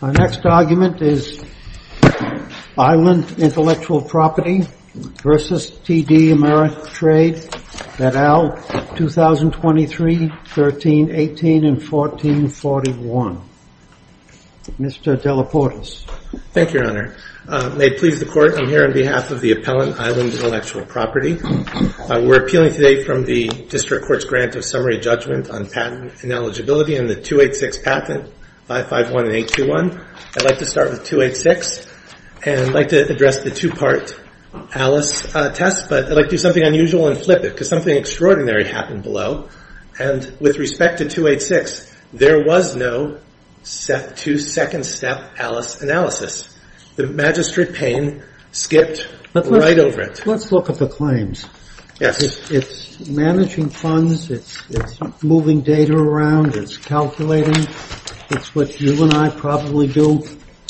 Our next argument is Island Intellectual Property v. TD Ameritrade, et al., 2023, 1318 and 1441. Mr. Delaportis. Thank you, Your Honor. May it please the Court, I'm here on behalf of the appellant, Island Intellectual Property. We're appealing today from the District Court's grant of summary judgment on patent ineligibility on the 286 patent, 551 and 821. I'd like to start with 286 and I'd like to address the two-part Alice test, but I'd like to do something unusual and flip it because something extraordinary happened below. And with respect to 286, there was no two-second step Alice analysis. The magistrate pane skipped right over it. Let's look at the claims. Yes. It's managing funds. It's moving data around. It's calculating. It's what you and I probably do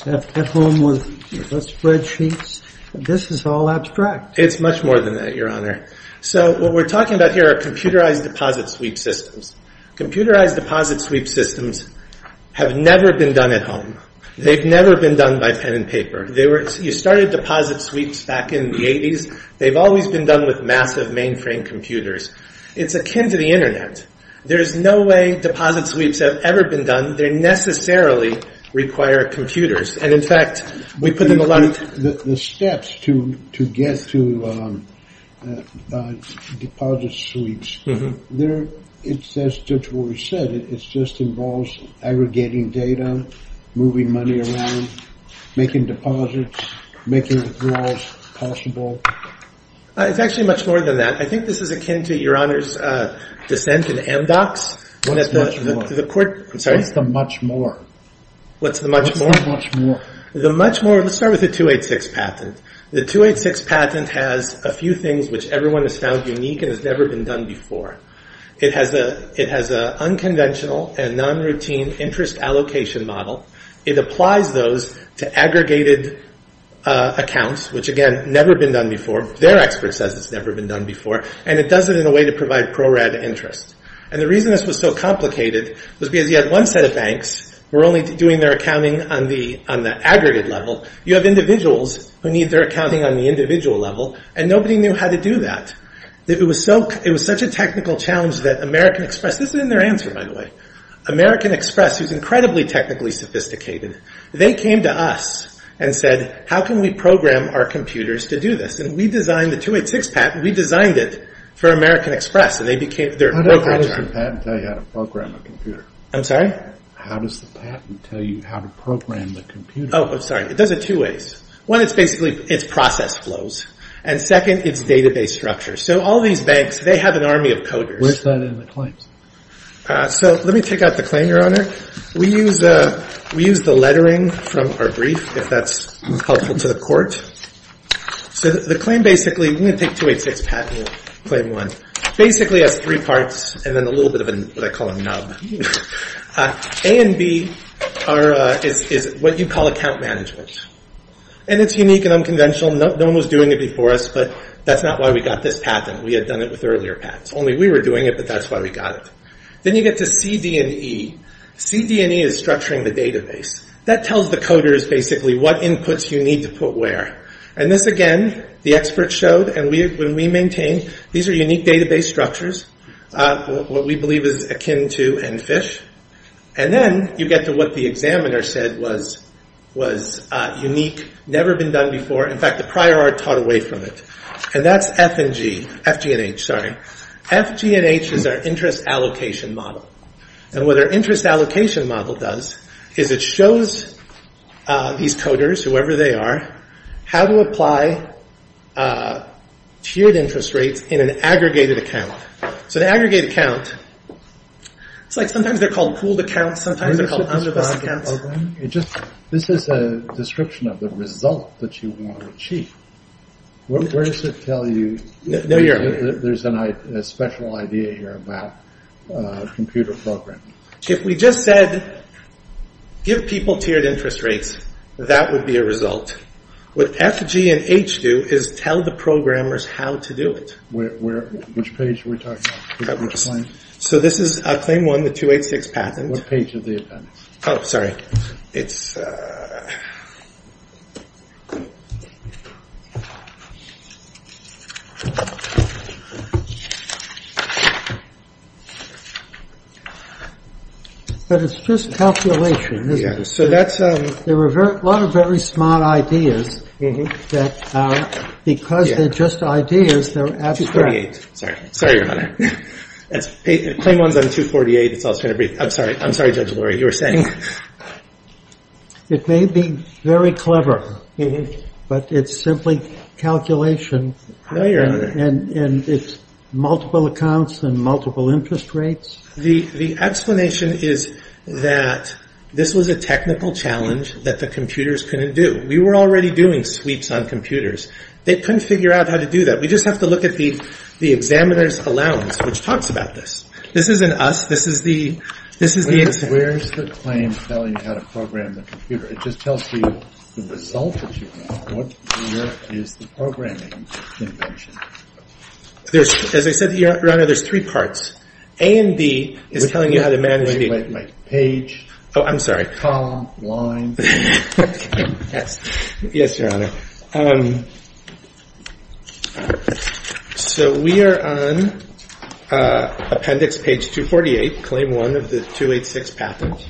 at home with spreadsheets. This is all abstract. It's much more than that, Your Honor. So what we're talking about here are computerized deposit sweep systems. Computerized deposit sweep systems have never been done at home. They've never been done by pen and paper. You started deposit sweeps back in the 80s. They've always been done with massive mainframe computers. It's akin to the Internet. There's no way deposit sweeps have ever been done. They necessarily require computers. And, in fact, we put them alike. The steps to get to deposit sweeps, it's just what we said. It just involves aggregating data, moving money around, making deposits, making withdrawals possible. It's actually much more than that. I think this is akin to Your Honor's dissent in MDOCS. What's the much more? I'm sorry. What's the much more? What's the much more? What's the much more? The much more, let's start with the 286 patent. The 286 patent has a few things which everyone has found unique and has never been done before. It has an unconventional and non-routine interest allocation model. It applies those to aggregated accounts, which, again, never been done before. Their expert says it's never been done before. And it does it in a way to provide pro-rad interest. And the reason this was so complicated was because you had one set of banks who were only doing their accounting on the aggregate level. You have individuals who need their accounting on the individual level, and nobody knew how to do that. It was such a technical challenge that American Express, this is in their answer, by the way, American Express, who's incredibly technically sophisticated, they came to us and said, how can we program our computers to do this? And we designed the 286 patent. We designed it for American Express. How does the patent tell you how to program a computer? I'm sorry? How does the patent tell you how to program the computer? Oh, I'm sorry. It does it two ways. One, it's basically, it's process flows. And second, it's database structure. So all these banks, they have an army of coders. Where's that in the claims? So let me take out the claim, Your Honor. We use the lettering from our brief, if that's helpful to the court. So the claim basically, I'm going to take 286 patent and claim one, basically has three parts and then a little bit of what I call a nub. A and B is what you call account management. And it's unique and unconventional. No one was doing it before us, but that's not why we got this patent. We had done it with earlier patents. Only we were doing it, but that's why we got it. Then you get to C, D, and E. C, D, and E is structuring the database. That tells the coders basically what inputs you need to put where. And this, again, the experts showed. And when we maintain, these are unique database structures, what we believe is akin to EnFish. And then you get to what the examiner said was unique, never been done before. In fact, the prior art taught away from it. And that's F and G, F, G, and H, sorry. F, G, and H is our interest allocation model. And what our interest allocation model does is it shows these coders, whoever they are, how to apply tiered interest rates in an aggregated account. So the aggregated account, it's like sometimes they're called pooled accounts, sometimes they're called underlist accounts. This is a description of the result that you want to achieve. Where does it tell you? There's a special idea here about computer programming. If we just said give people tiered interest rates, that would be a result. What F, G, and H do is tell the programmers how to do it. Which page are we talking about? So this is claim one, the 286 patent. Oh, sorry. But it's just calculation, isn't it? There are a lot of very smart ideas that because they're just ideas, they're abstract. Sorry, Your Honor. Claim one's on 248, that's all it's going to be. I'm sorry, Judge Lurie, you were saying. It may be very clever, but it's simply calculation. No, Your Honor. And it's multiple accounts and multiple interest rates. The explanation is that this was a technical challenge that the computers couldn't do. We were already doing sweeps on computers. They couldn't figure out how to do that. We just have to look at the examiner's allowance, which talks about this. This isn't us. This is the examiner. Where's the claim telling you how to program the computer? It just tells you the result that you want. What here is the programming invention? As I said, Your Honor, there's three parts. A and B is telling you how to manage the computer. Oh, I'm sorry. Column, line. Yes, Your Honor. We are on appendix page 248, claim one of the 286 patent.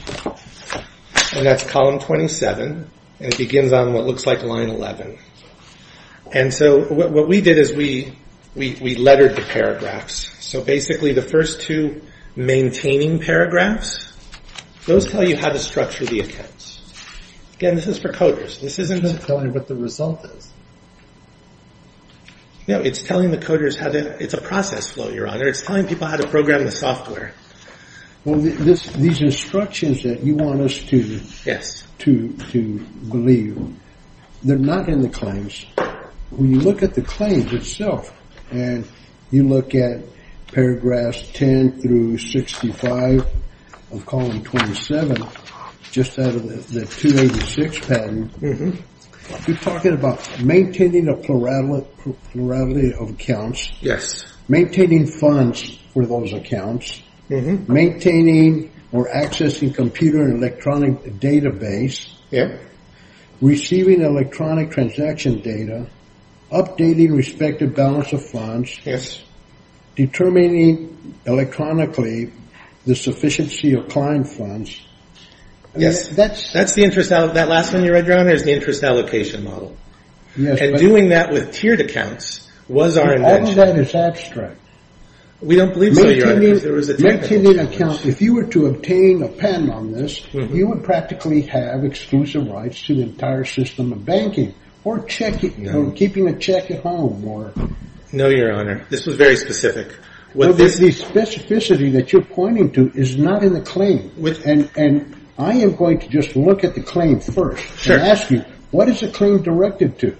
That's column 27. It begins on what looks like line 11. What we did is we lettered the paragraphs. Basically, the first two maintaining paragraphs, those tell you how to structure the attempts. Again, this is for coders. It's not telling you what the result is. No, it's telling the coders how to. It's a process flow, Your Honor. It's telling people how to program the software. Well, these instructions that you want us to believe, they're not in the claims. When you look at the claims itself, and you look at paragraphs 10 through 65 of column 27, just out of the 286 patent, you're talking about maintaining a plurality of accounts. Yes. Maintaining funds for those accounts. Maintaining or accessing computer and electronic database. Yes. Receiving electronic transaction data. Updating respective balance of funds. Yes. Determining electronically the sufficiency of client funds. Yes. That's the interest. That last one you read, Your Honor, is the interest allocation model. And doing that with tiered accounts was our invention. All of that is abstract. We don't believe so, Your Honor. Maintaining accounts. If you were to obtain a pen on this, you would practically have exclusive rights to the entire system of banking or keeping a check at home. No, Your Honor. This was very specific. The specificity that you're pointing to is not in the claim. And I am going to just look at the claim first and ask you, what is the claim directed to?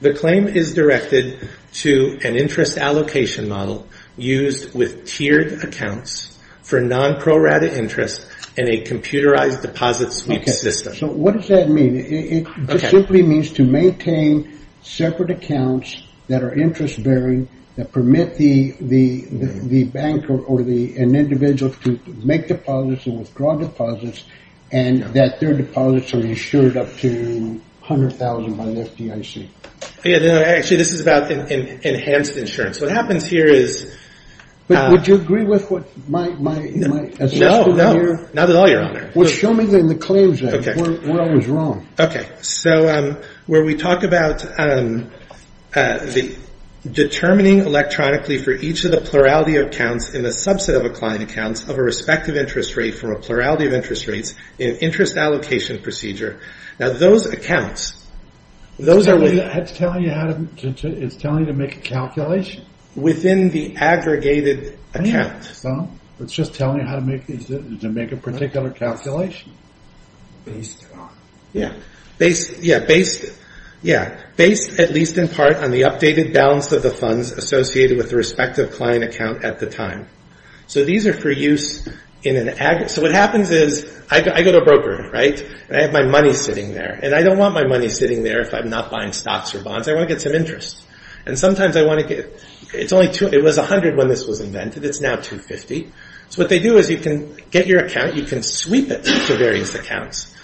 The claim is directed to an interest allocation model used with tiered accounts for non-prorated interest in a computerized deposit sweep system. Okay. So what does that mean? It simply means to maintain separate accounts that are interest-bearing, that permit the banker or an individual to make deposits and withdraw deposits, and that their deposits are insured up to $100,000 by the FDIC. Actually, this is about enhanced insurance. What happens here is – Would you agree with what my assessment here? No. Not at all, Your Honor. Well, show me the claims then. Okay. Where I was wrong. Okay. So where we talk about determining electronically for each of the plurality of accounts in the subset of a client account of a respective interest rate from a plurality of interest rates in an interest allocation procedure. Now, those accounts – It's telling you how to make a calculation? Within the aggregated account. It's just telling you how to make a particular calculation. Based on. Yeah. Based, at least in part, on the updated balance of the funds associated with the respective client account at the time. So these are for use in an – So what happens is I go to a broker, right? And I have my money sitting there. And I don't want my money sitting there if I'm not buying stocks or bonds. I want to get some interest. And sometimes I want to get – It was $100 when this was invented. It's now $250. So what they do is you can get your account. You can sweep it to various accounts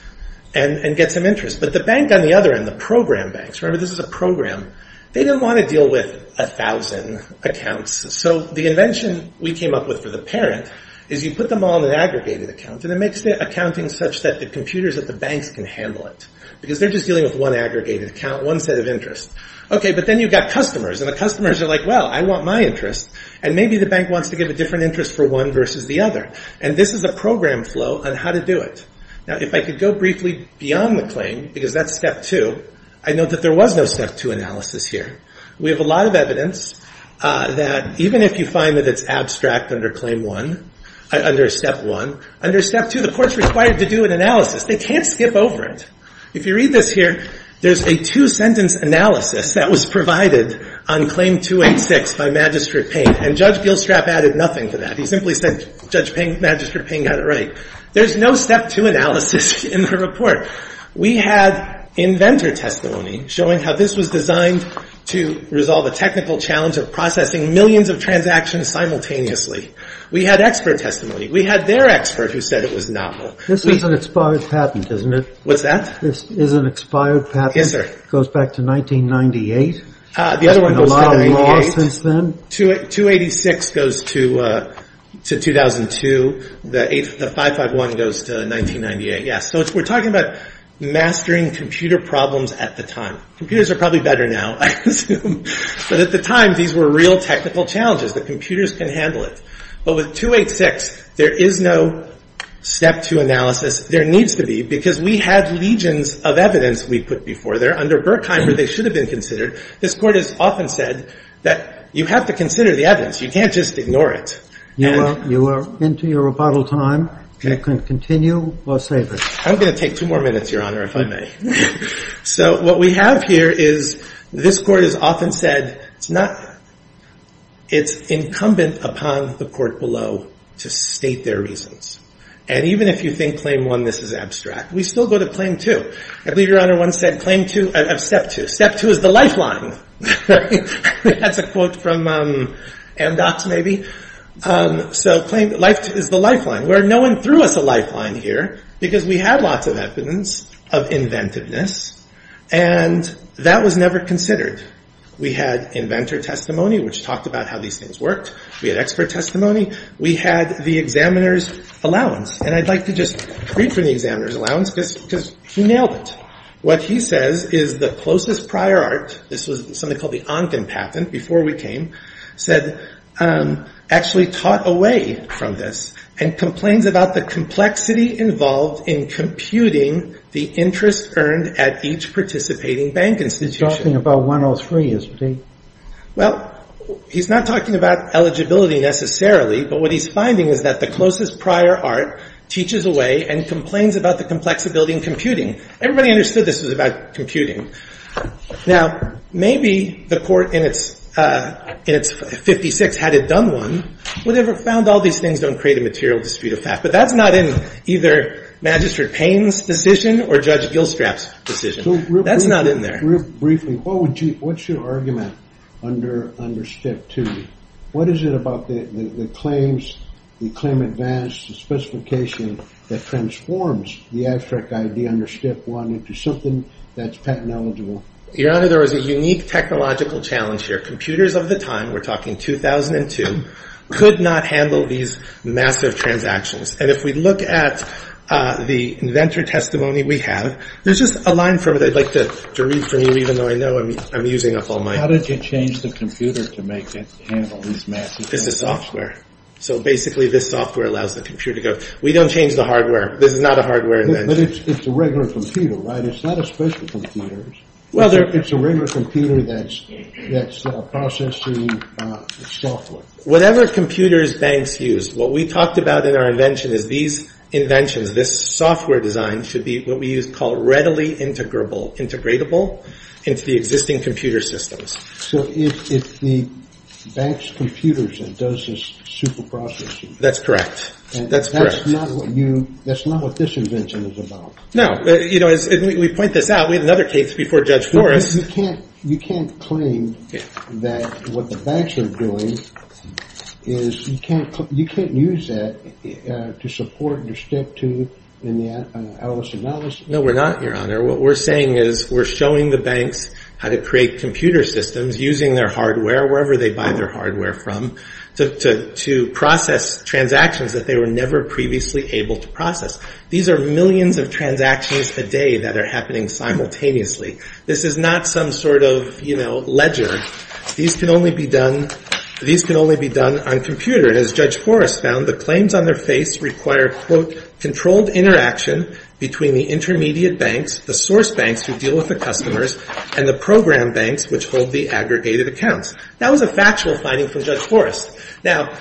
and get some interest. But the bank on the other end, the program banks – Remember, this is a program. They didn't want to deal with 1,000 accounts. So the invention we came up with for the parent is you put them all in an aggregated account. And it makes the accounting such that the computers at the banks can handle it. Because they're just dealing with one aggregated account, one set of interest. Okay. But then you've got customers. And the customers are like, well, I want my interest. And maybe the bank wants to give a different interest for one versus the other. And this is a program flow on how to do it. Now, if I could go briefly beyond the claim, because that's Step 2. I know that there was no Step 2 analysis here. We have a lot of evidence that even if you find that it's abstract under Step 1, under Step 2 the court's required to do an analysis. They can't skip over it. If you read this here, there's a two-sentence analysis that was provided on Claim 286 by Magistrate Payne. And Judge Gilstrap added nothing to that. He simply said, Judge Payne, Magistrate Payne got it right. There's no Step 2 analysis in the report. We had inventor testimony showing how this was designed to resolve a technical challenge of processing millions of transactions simultaneously. We had expert testimony. We had their expert who said it was novel. This is an expired patent, isn't it? What's that? This is an expired patent. Yes, sir. It goes back to 1998. The other one goes to 1998. There's been a lot of law since then. 286 goes to 2002. The 551 goes to 1998, yes. So we're talking about mastering computer problems at the time. Computers are probably better now, I assume. But at the time, these were real technical challenges. The computers can handle it. But with 286, there is no Step 2 analysis. There needs to be, because we had legions of evidence we put before there. Under Berkheimer, they should have been considered. This Court has often said that you have to consider the evidence. You can't just ignore it. You are into your rebuttal time. You can continue or save it. I'm going to take two more minutes, Your Honor, if I may. So what we have here is this Court has often said it's incumbent upon the court below to state their reasons. And even if you think Claim 1, this is abstract, we still go to Claim 2. I believe Your Honor once said Step 2. Step 2 is the lifeline. That's a quote from MDOT, maybe. So Claim 2 is the lifeline. No one threw us a lifeline here, because we had lots of evidence of inventiveness. And that was never considered. We had inventor testimony, which talked about how these things worked. We had expert testimony. We had the examiner's allowance. And I'd like to just read from the examiner's allowance, because he nailed it. What he says is the closest prior art, this was something called the Onken patent before we came, actually taught away from this and complains about the complexity involved in computing the interest earned at each participating bank institution. He's talking about 103, isn't he? Well, he's not talking about eligibility necessarily. But what he's finding is that the closest prior art teaches away and complains about the complexity in computing. Everybody understood this was about computing. Now, maybe the court in its 56 had it done one, would have found all these things don't create a material dispute of fact. But that's not in either Magistrate Payne's decision or Judge Gilstrap's decision. That's not in there. Briefly, what's your argument under Step 2? What is it about the claims, the claim advance, the specification that transforms the abstract idea under Step 1 into something that's patent eligible? Your Honor, there was a unique technological challenge here. Computers of the time, we're talking 2002, could not handle these massive transactions. And if we look at the inventor testimony we have, there's just a line from it I'd like to read from you, even though I know I'm using up all my time. How did you change the computer to make it handle these massive transactions? This is software. So basically, this software allows the computer to go, we don't change the hardware. This is not a hardware invention. But it's a regular computer, right? It's not a special computer. Well, it's a regular computer that's processing software. Whatever computers banks use, what we talked about in our invention is these inventions, this software design, should be what we use called readily integrable, into the existing computer systems. So it's the bank's computers that does this super processing. That's correct. That's not what this invention is about. No. We point this out. We have another case before Judge Forrest. You can't claim that what the banks are doing is, you can't use that to support your Step 2 analysis. No, we're not, Your Honor. What we're saying is we're showing the banks how to create computer systems using their hardware, wherever they buy their hardware from, to process transactions that they were never previously able to process. These are millions of transactions a day that are happening simultaneously. This is not some sort of, you know, ledger. These can only be done on computer. The claims on their face require, quote, controlled interaction between the intermediate banks, the source banks who deal with the customers, and the program banks which hold the aggregated accounts. That was a factual finding from Judge Forrest. Now,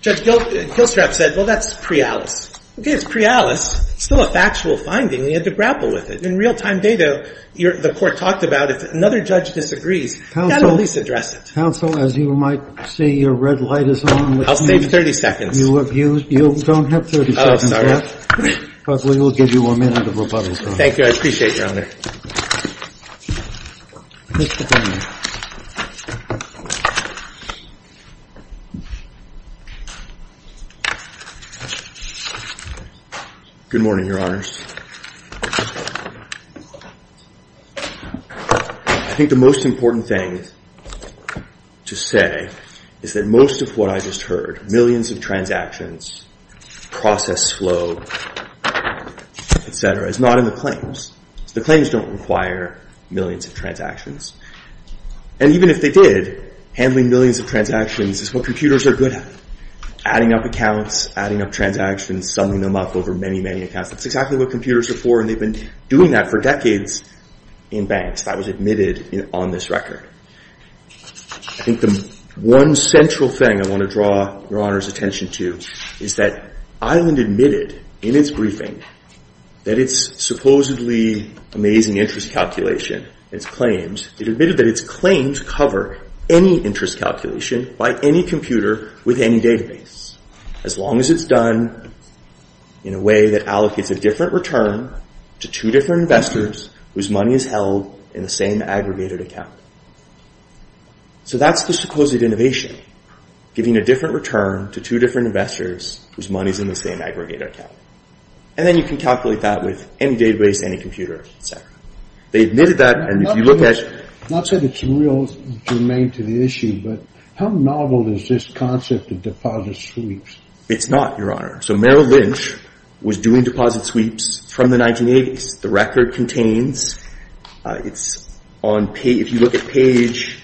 Judge Kilstrap said, well, that's pre-Alice. Okay, it's pre-Alice. It's still a factual finding. We had to grapple with it. In real-time data, the court talked about if another judge disagrees, you've got to at least address it. Counsel, as you might see, your red light is on. I'll save 30 seconds. You don't have 30 seconds yet, but we will give you a minute of rebuttal time. Thank you. I appreciate it, Your Honor. Good morning, Your Honors. I think the most important thing to say is that most of what I just heard, millions of transactions, process flow, et cetera, is not in the claims. The claims don't require millions of transactions. And even if they did, handling millions of transactions is what computers are good at, adding up accounts, adding up transactions, summing them up over many, many accounts. That's exactly what computers are for, and they've been doing that for decades in banks. That was admitted on this record. I think the one central thing I want to draw Your Honor's attention to is that Island admitted in its briefing that its supposedly amazing interest calculation, its claims, it admitted that its claims cover any interest calculation by any computer with any database, as long as it's done in a way that allocates a different return to two different investors whose money is held in the same aggregated account. So that's the supposed innovation, giving a different return to two different investors whose money is in the same aggregated account. And then you can calculate that with any database, any computer, et cetera. They admitted that, and if you look at- Not that it's real germane to the issue, but how novel is this concept of deposit sweeps? It's not, Your Honor. So Merrill Lynch was doing deposit sweeps from the 1980s. The record contains, it's on page, if you look at page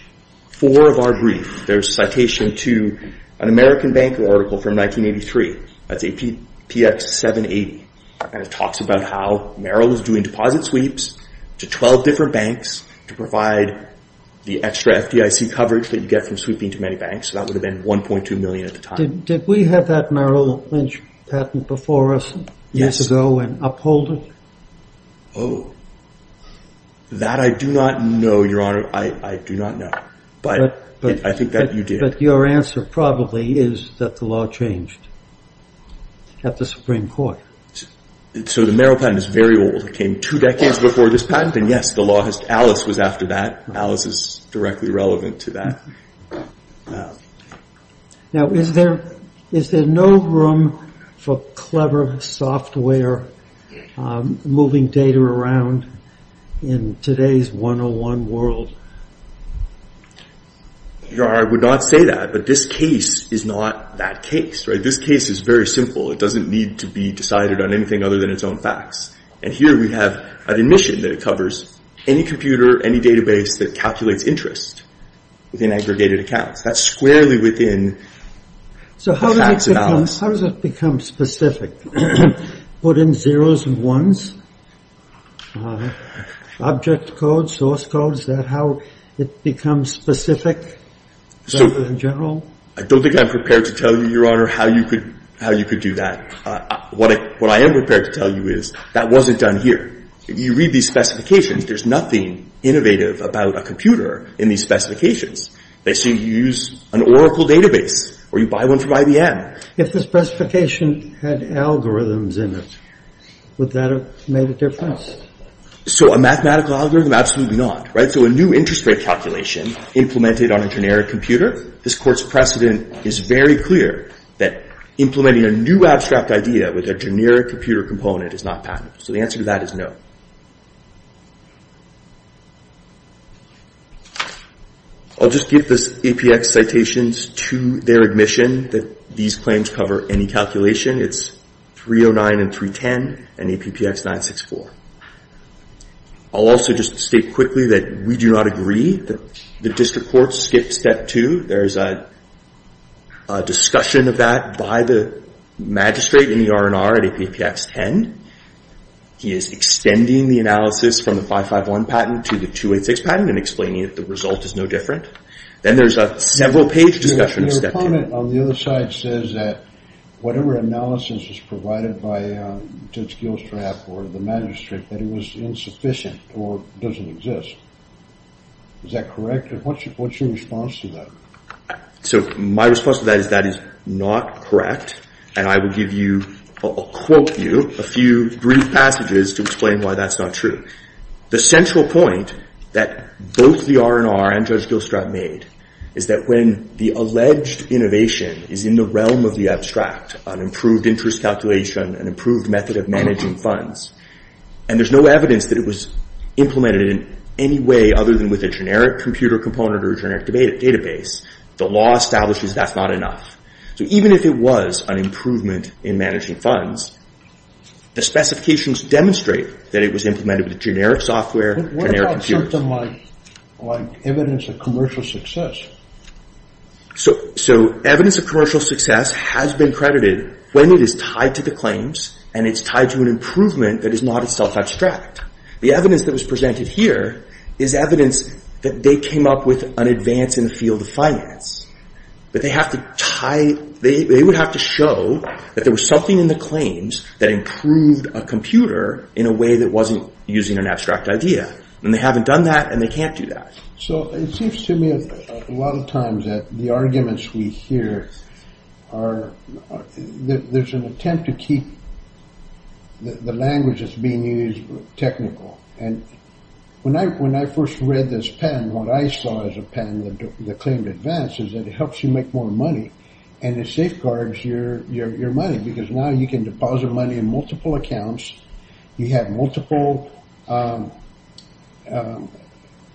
four of our brief, there's a citation to an American Bank article from 1983. That's APX 780. And it talks about how Merrill was doing deposit sweeps to 12 different banks to provide the extra FDIC coverage that you get from sweeping to many banks. So that would have been 1.2 million at the time. Did we have that Merrill Lynch patent before us years ago and uphold it? Oh, that I do not know, Your Honor. I do not know. But I think that you did. But your answer probably is that the law changed at the Supreme Court. So the Merrill patent is very old. It came two decades before this patent, and yes, Alice was after that. Alice is directly relevant to that. Now, is there no room for clever software moving data around in today's 101 world? Your Honor, I would not say that. But this case is not that case, right? This case is very simple. It doesn't need to be decided on anything other than its own facts. And here we have an admission that it covers any computer, any database that calculates interest within aggregated accounts. That's squarely within the facts of Alice. So how does it become specific? Put in zeros and ones, object code, source code, is that how it becomes specific in general? I don't think I'm prepared to tell you, Your Honor, how you could do that. What I am prepared to tell you is that wasn't done here. If you read these specifications, there's nothing innovative about a computer in these specifications. They say you use an Oracle database or you buy one from IBM. If the specification had algorithms in it, would that have made a difference? So a mathematical algorithm, absolutely not, right? So a new interest rate calculation implemented on a generic computer, this Court's precedent is very clear that implementing a new abstract idea with a generic computer component is not patentable. So the answer to that is no. I'll just give this APX citations to their admission that these claims cover any calculation. It's 309 and 310 and APPX 964. I'll also just state quickly that we do not agree. The District Court skipped step two. There's a discussion of that by the magistrate in the R&R at APPX 10. He is extending the analysis from the 551 patent to the 286 patent and explaining that the result is no different. Then there's a several-page discussion of step two. Your comment on the other side says that whatever analysis was provided by Judge Gilstrap or the magistrate, that it was insufficient or doesn't exist. Is that correct? What's your response to that? So my response to that is that is not correct. And I will give you or quote you a few brief passages to explain why that's not true. The central point that both the R&R and Judge Gilstrap made is that when the alleged innovation is in the realm of the abstract, an improved interest calculation, an improved method of managing funds, and there's no evidence that it was implemented in any way other than with a generic computer component or a generic database, the law establishes that's not enough. So even if it was an improvement in managing funds, the specifications demonstrate that it was implemented with a generic software, generic computer. What about something like evidence of commercial success? So evidence of commercial success has been credited when it is tied to the claims and it's tied to an improvement that is not itself abstract. The evidence that was presented here is evidence that they came up with an advance in the field of finance. But they have to tie, they would have to show that there was something in the claims that improved a computer in a way that wasn't using an abstract idea. And they haven't done that and they can't do that. So it seems to me a lot of times that the arguments we hear are, there's an attempt to keep the language that's being used technical. When I first read this pen, what I saw as a pen, the claim to advance, is that it helps you make more money and it safeguards your money because now you can deposit money in multiple accounts, you have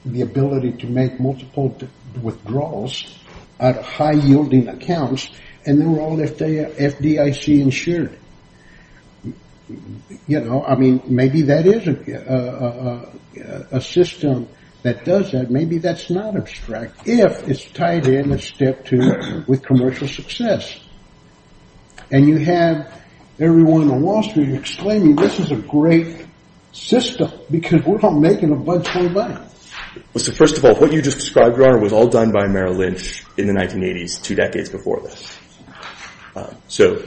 the ability to make multiple withdrawals out of high-yielding accounts, and they're all FDIC insured. You know, I mean, maybe that is a system that does that. Maybe that's not abstract if it's tied in a step to with commercial success. And you have everyone on Wall Street exclaiming, this is a great system because we're all making a bunch of money. Well, so first of all, what you just described, Your Honor, was all done by Merrill Lynch in the 1980s, two decades before this. So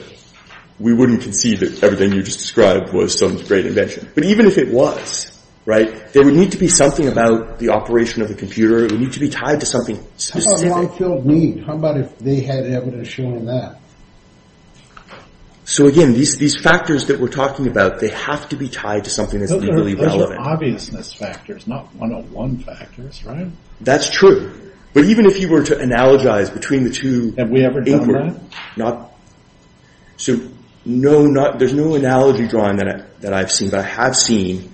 we wouldn't concede that everything you just described was some great invention. But even if it was, there would need to be something about the operation of the computer, it would need to be tied to something specific. How about long-field need? How about if they had evidence showing that? So again, these factors that we're talking about, they have to be tied to something that's legally relevant. Those are obviousness factors, not 101 factors, right? That's true. But even if you were to analogize between the two. Have we ever done that? So no, there's no analogy drawn that I've seen. But I have seen,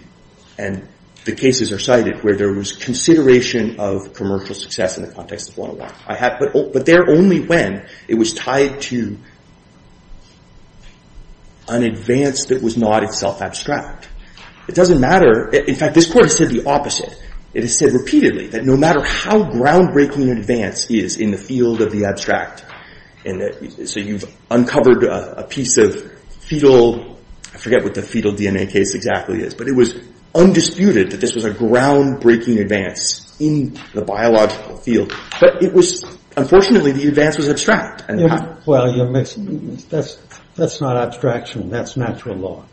and the cases are cited, where there was consideration of commercial success in the context of 101. But there only when it was tied to an advance that was not itself abstract. It doesn't matter. In fact, this Court has said the opposite. It has said repeatedly that no matter how groundbreaking an advance is in the field of the abstract, so you've uncovered a piece of fetal, I forget what the fetal DNA case exactly is, but it was undisputed that this was a groundbreaking advance in the biological field. But it was, unfortunately, the advance was abstract. Well, you're mixing, that's not abstraction, that's natural law.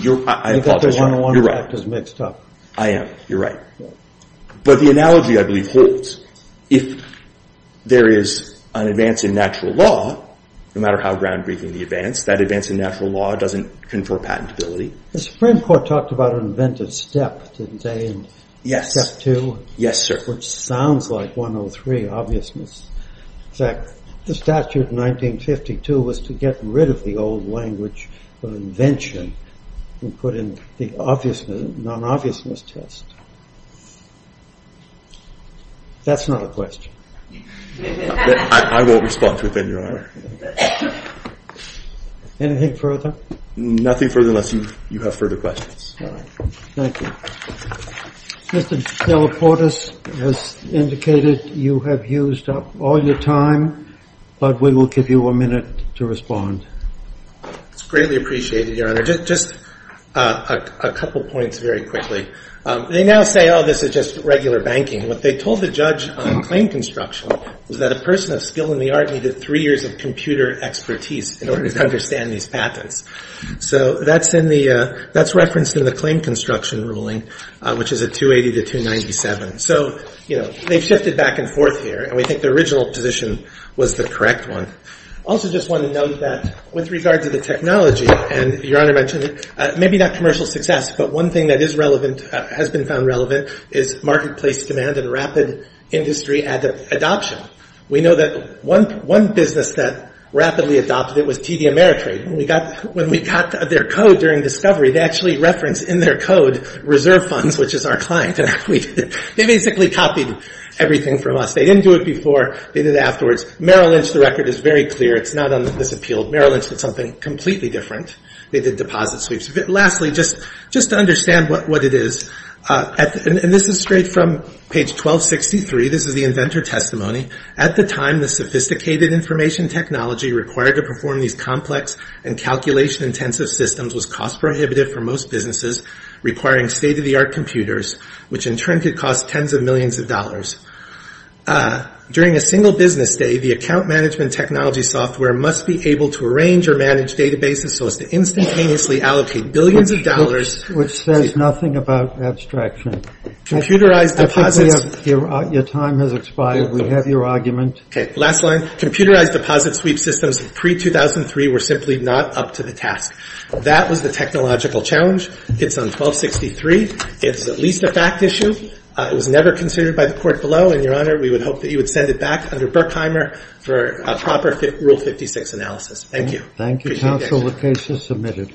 You're right. You've got the 101 factors mixed up. I am. You're right. But the analogy, I believe, holds. If there is an advance in natural law, no matter how groundbreaking the advance, that advance in natural law doesn't confer patentability. The Supreme Court talked about an invented step, didn't they? Yes. Step two. Yes, sir. Which sounds like 103, obviousness. In fact, the statute in 1952 was to get rid of the old language of invention and put in the non-obviousness test. That's not a question. I won't respond to it then, Your Honor. Anything further? Nothing further unless you have further questions. All right. Thank you. Mr. Delaportes has indicated you have used up all your time, It's greatly appreciated, Your Honor. Just a couple points very quickly. They now say, oh, this is just regular banking. What they told the judge on claim construction was that a person of skill in the art needed three years of computer expertise in order to understand these patents. So that's referenced in the claim construction ruling, which is a 280 to 297. So, you know, they've shifted back and forth here, and we think the original position was the correct one. Also just want to note that with regard to the technology, and Your Honor mentioned it, maybe not commercial success, but one thing that is relevant, has been found relevant, is marketplace demand and rapid industry adoption. We know that one business that rapidly adopted it was TD Ameritrade. When we got their code during discovery, they actually referenced in their code reserve funds, which is our client. They basically copied everything from us. They didn't do it before. They did it afterwards. Merrill Lynch, the record is very clear. It's not on this appeal. Merrill Lynch did something completely different. They did deposit sweeps. Lastly, just to understand what it is, and this is straight from page 1263. This is the inventor testimony. At the time, the sophisticated information technology required to perform these complex and calculation-intensive systems was cost-prohibitive for most businesses, requiring state-of-the-art computers, which in turn could cost tens of millions of dollars. During a single business day, the account management technology software must be able to arrange or manage databases so as to instantaneously allocate billions of dollars. Which says nothing about abstraction. Computerized deposits. Your time has expired. We have your argument. Okay, last line. Computerized deposit sweep systems pre-2003 were simply not up to the task. That was the technological challenge. It's on 1263. It's at least a fact issue. It was never considered by the court below, and, Your Honor, we would hope that you would send it back under Berkheimer for a proper Rule 56 analysis. Thank you. Thank you, counsel. The case is submitted.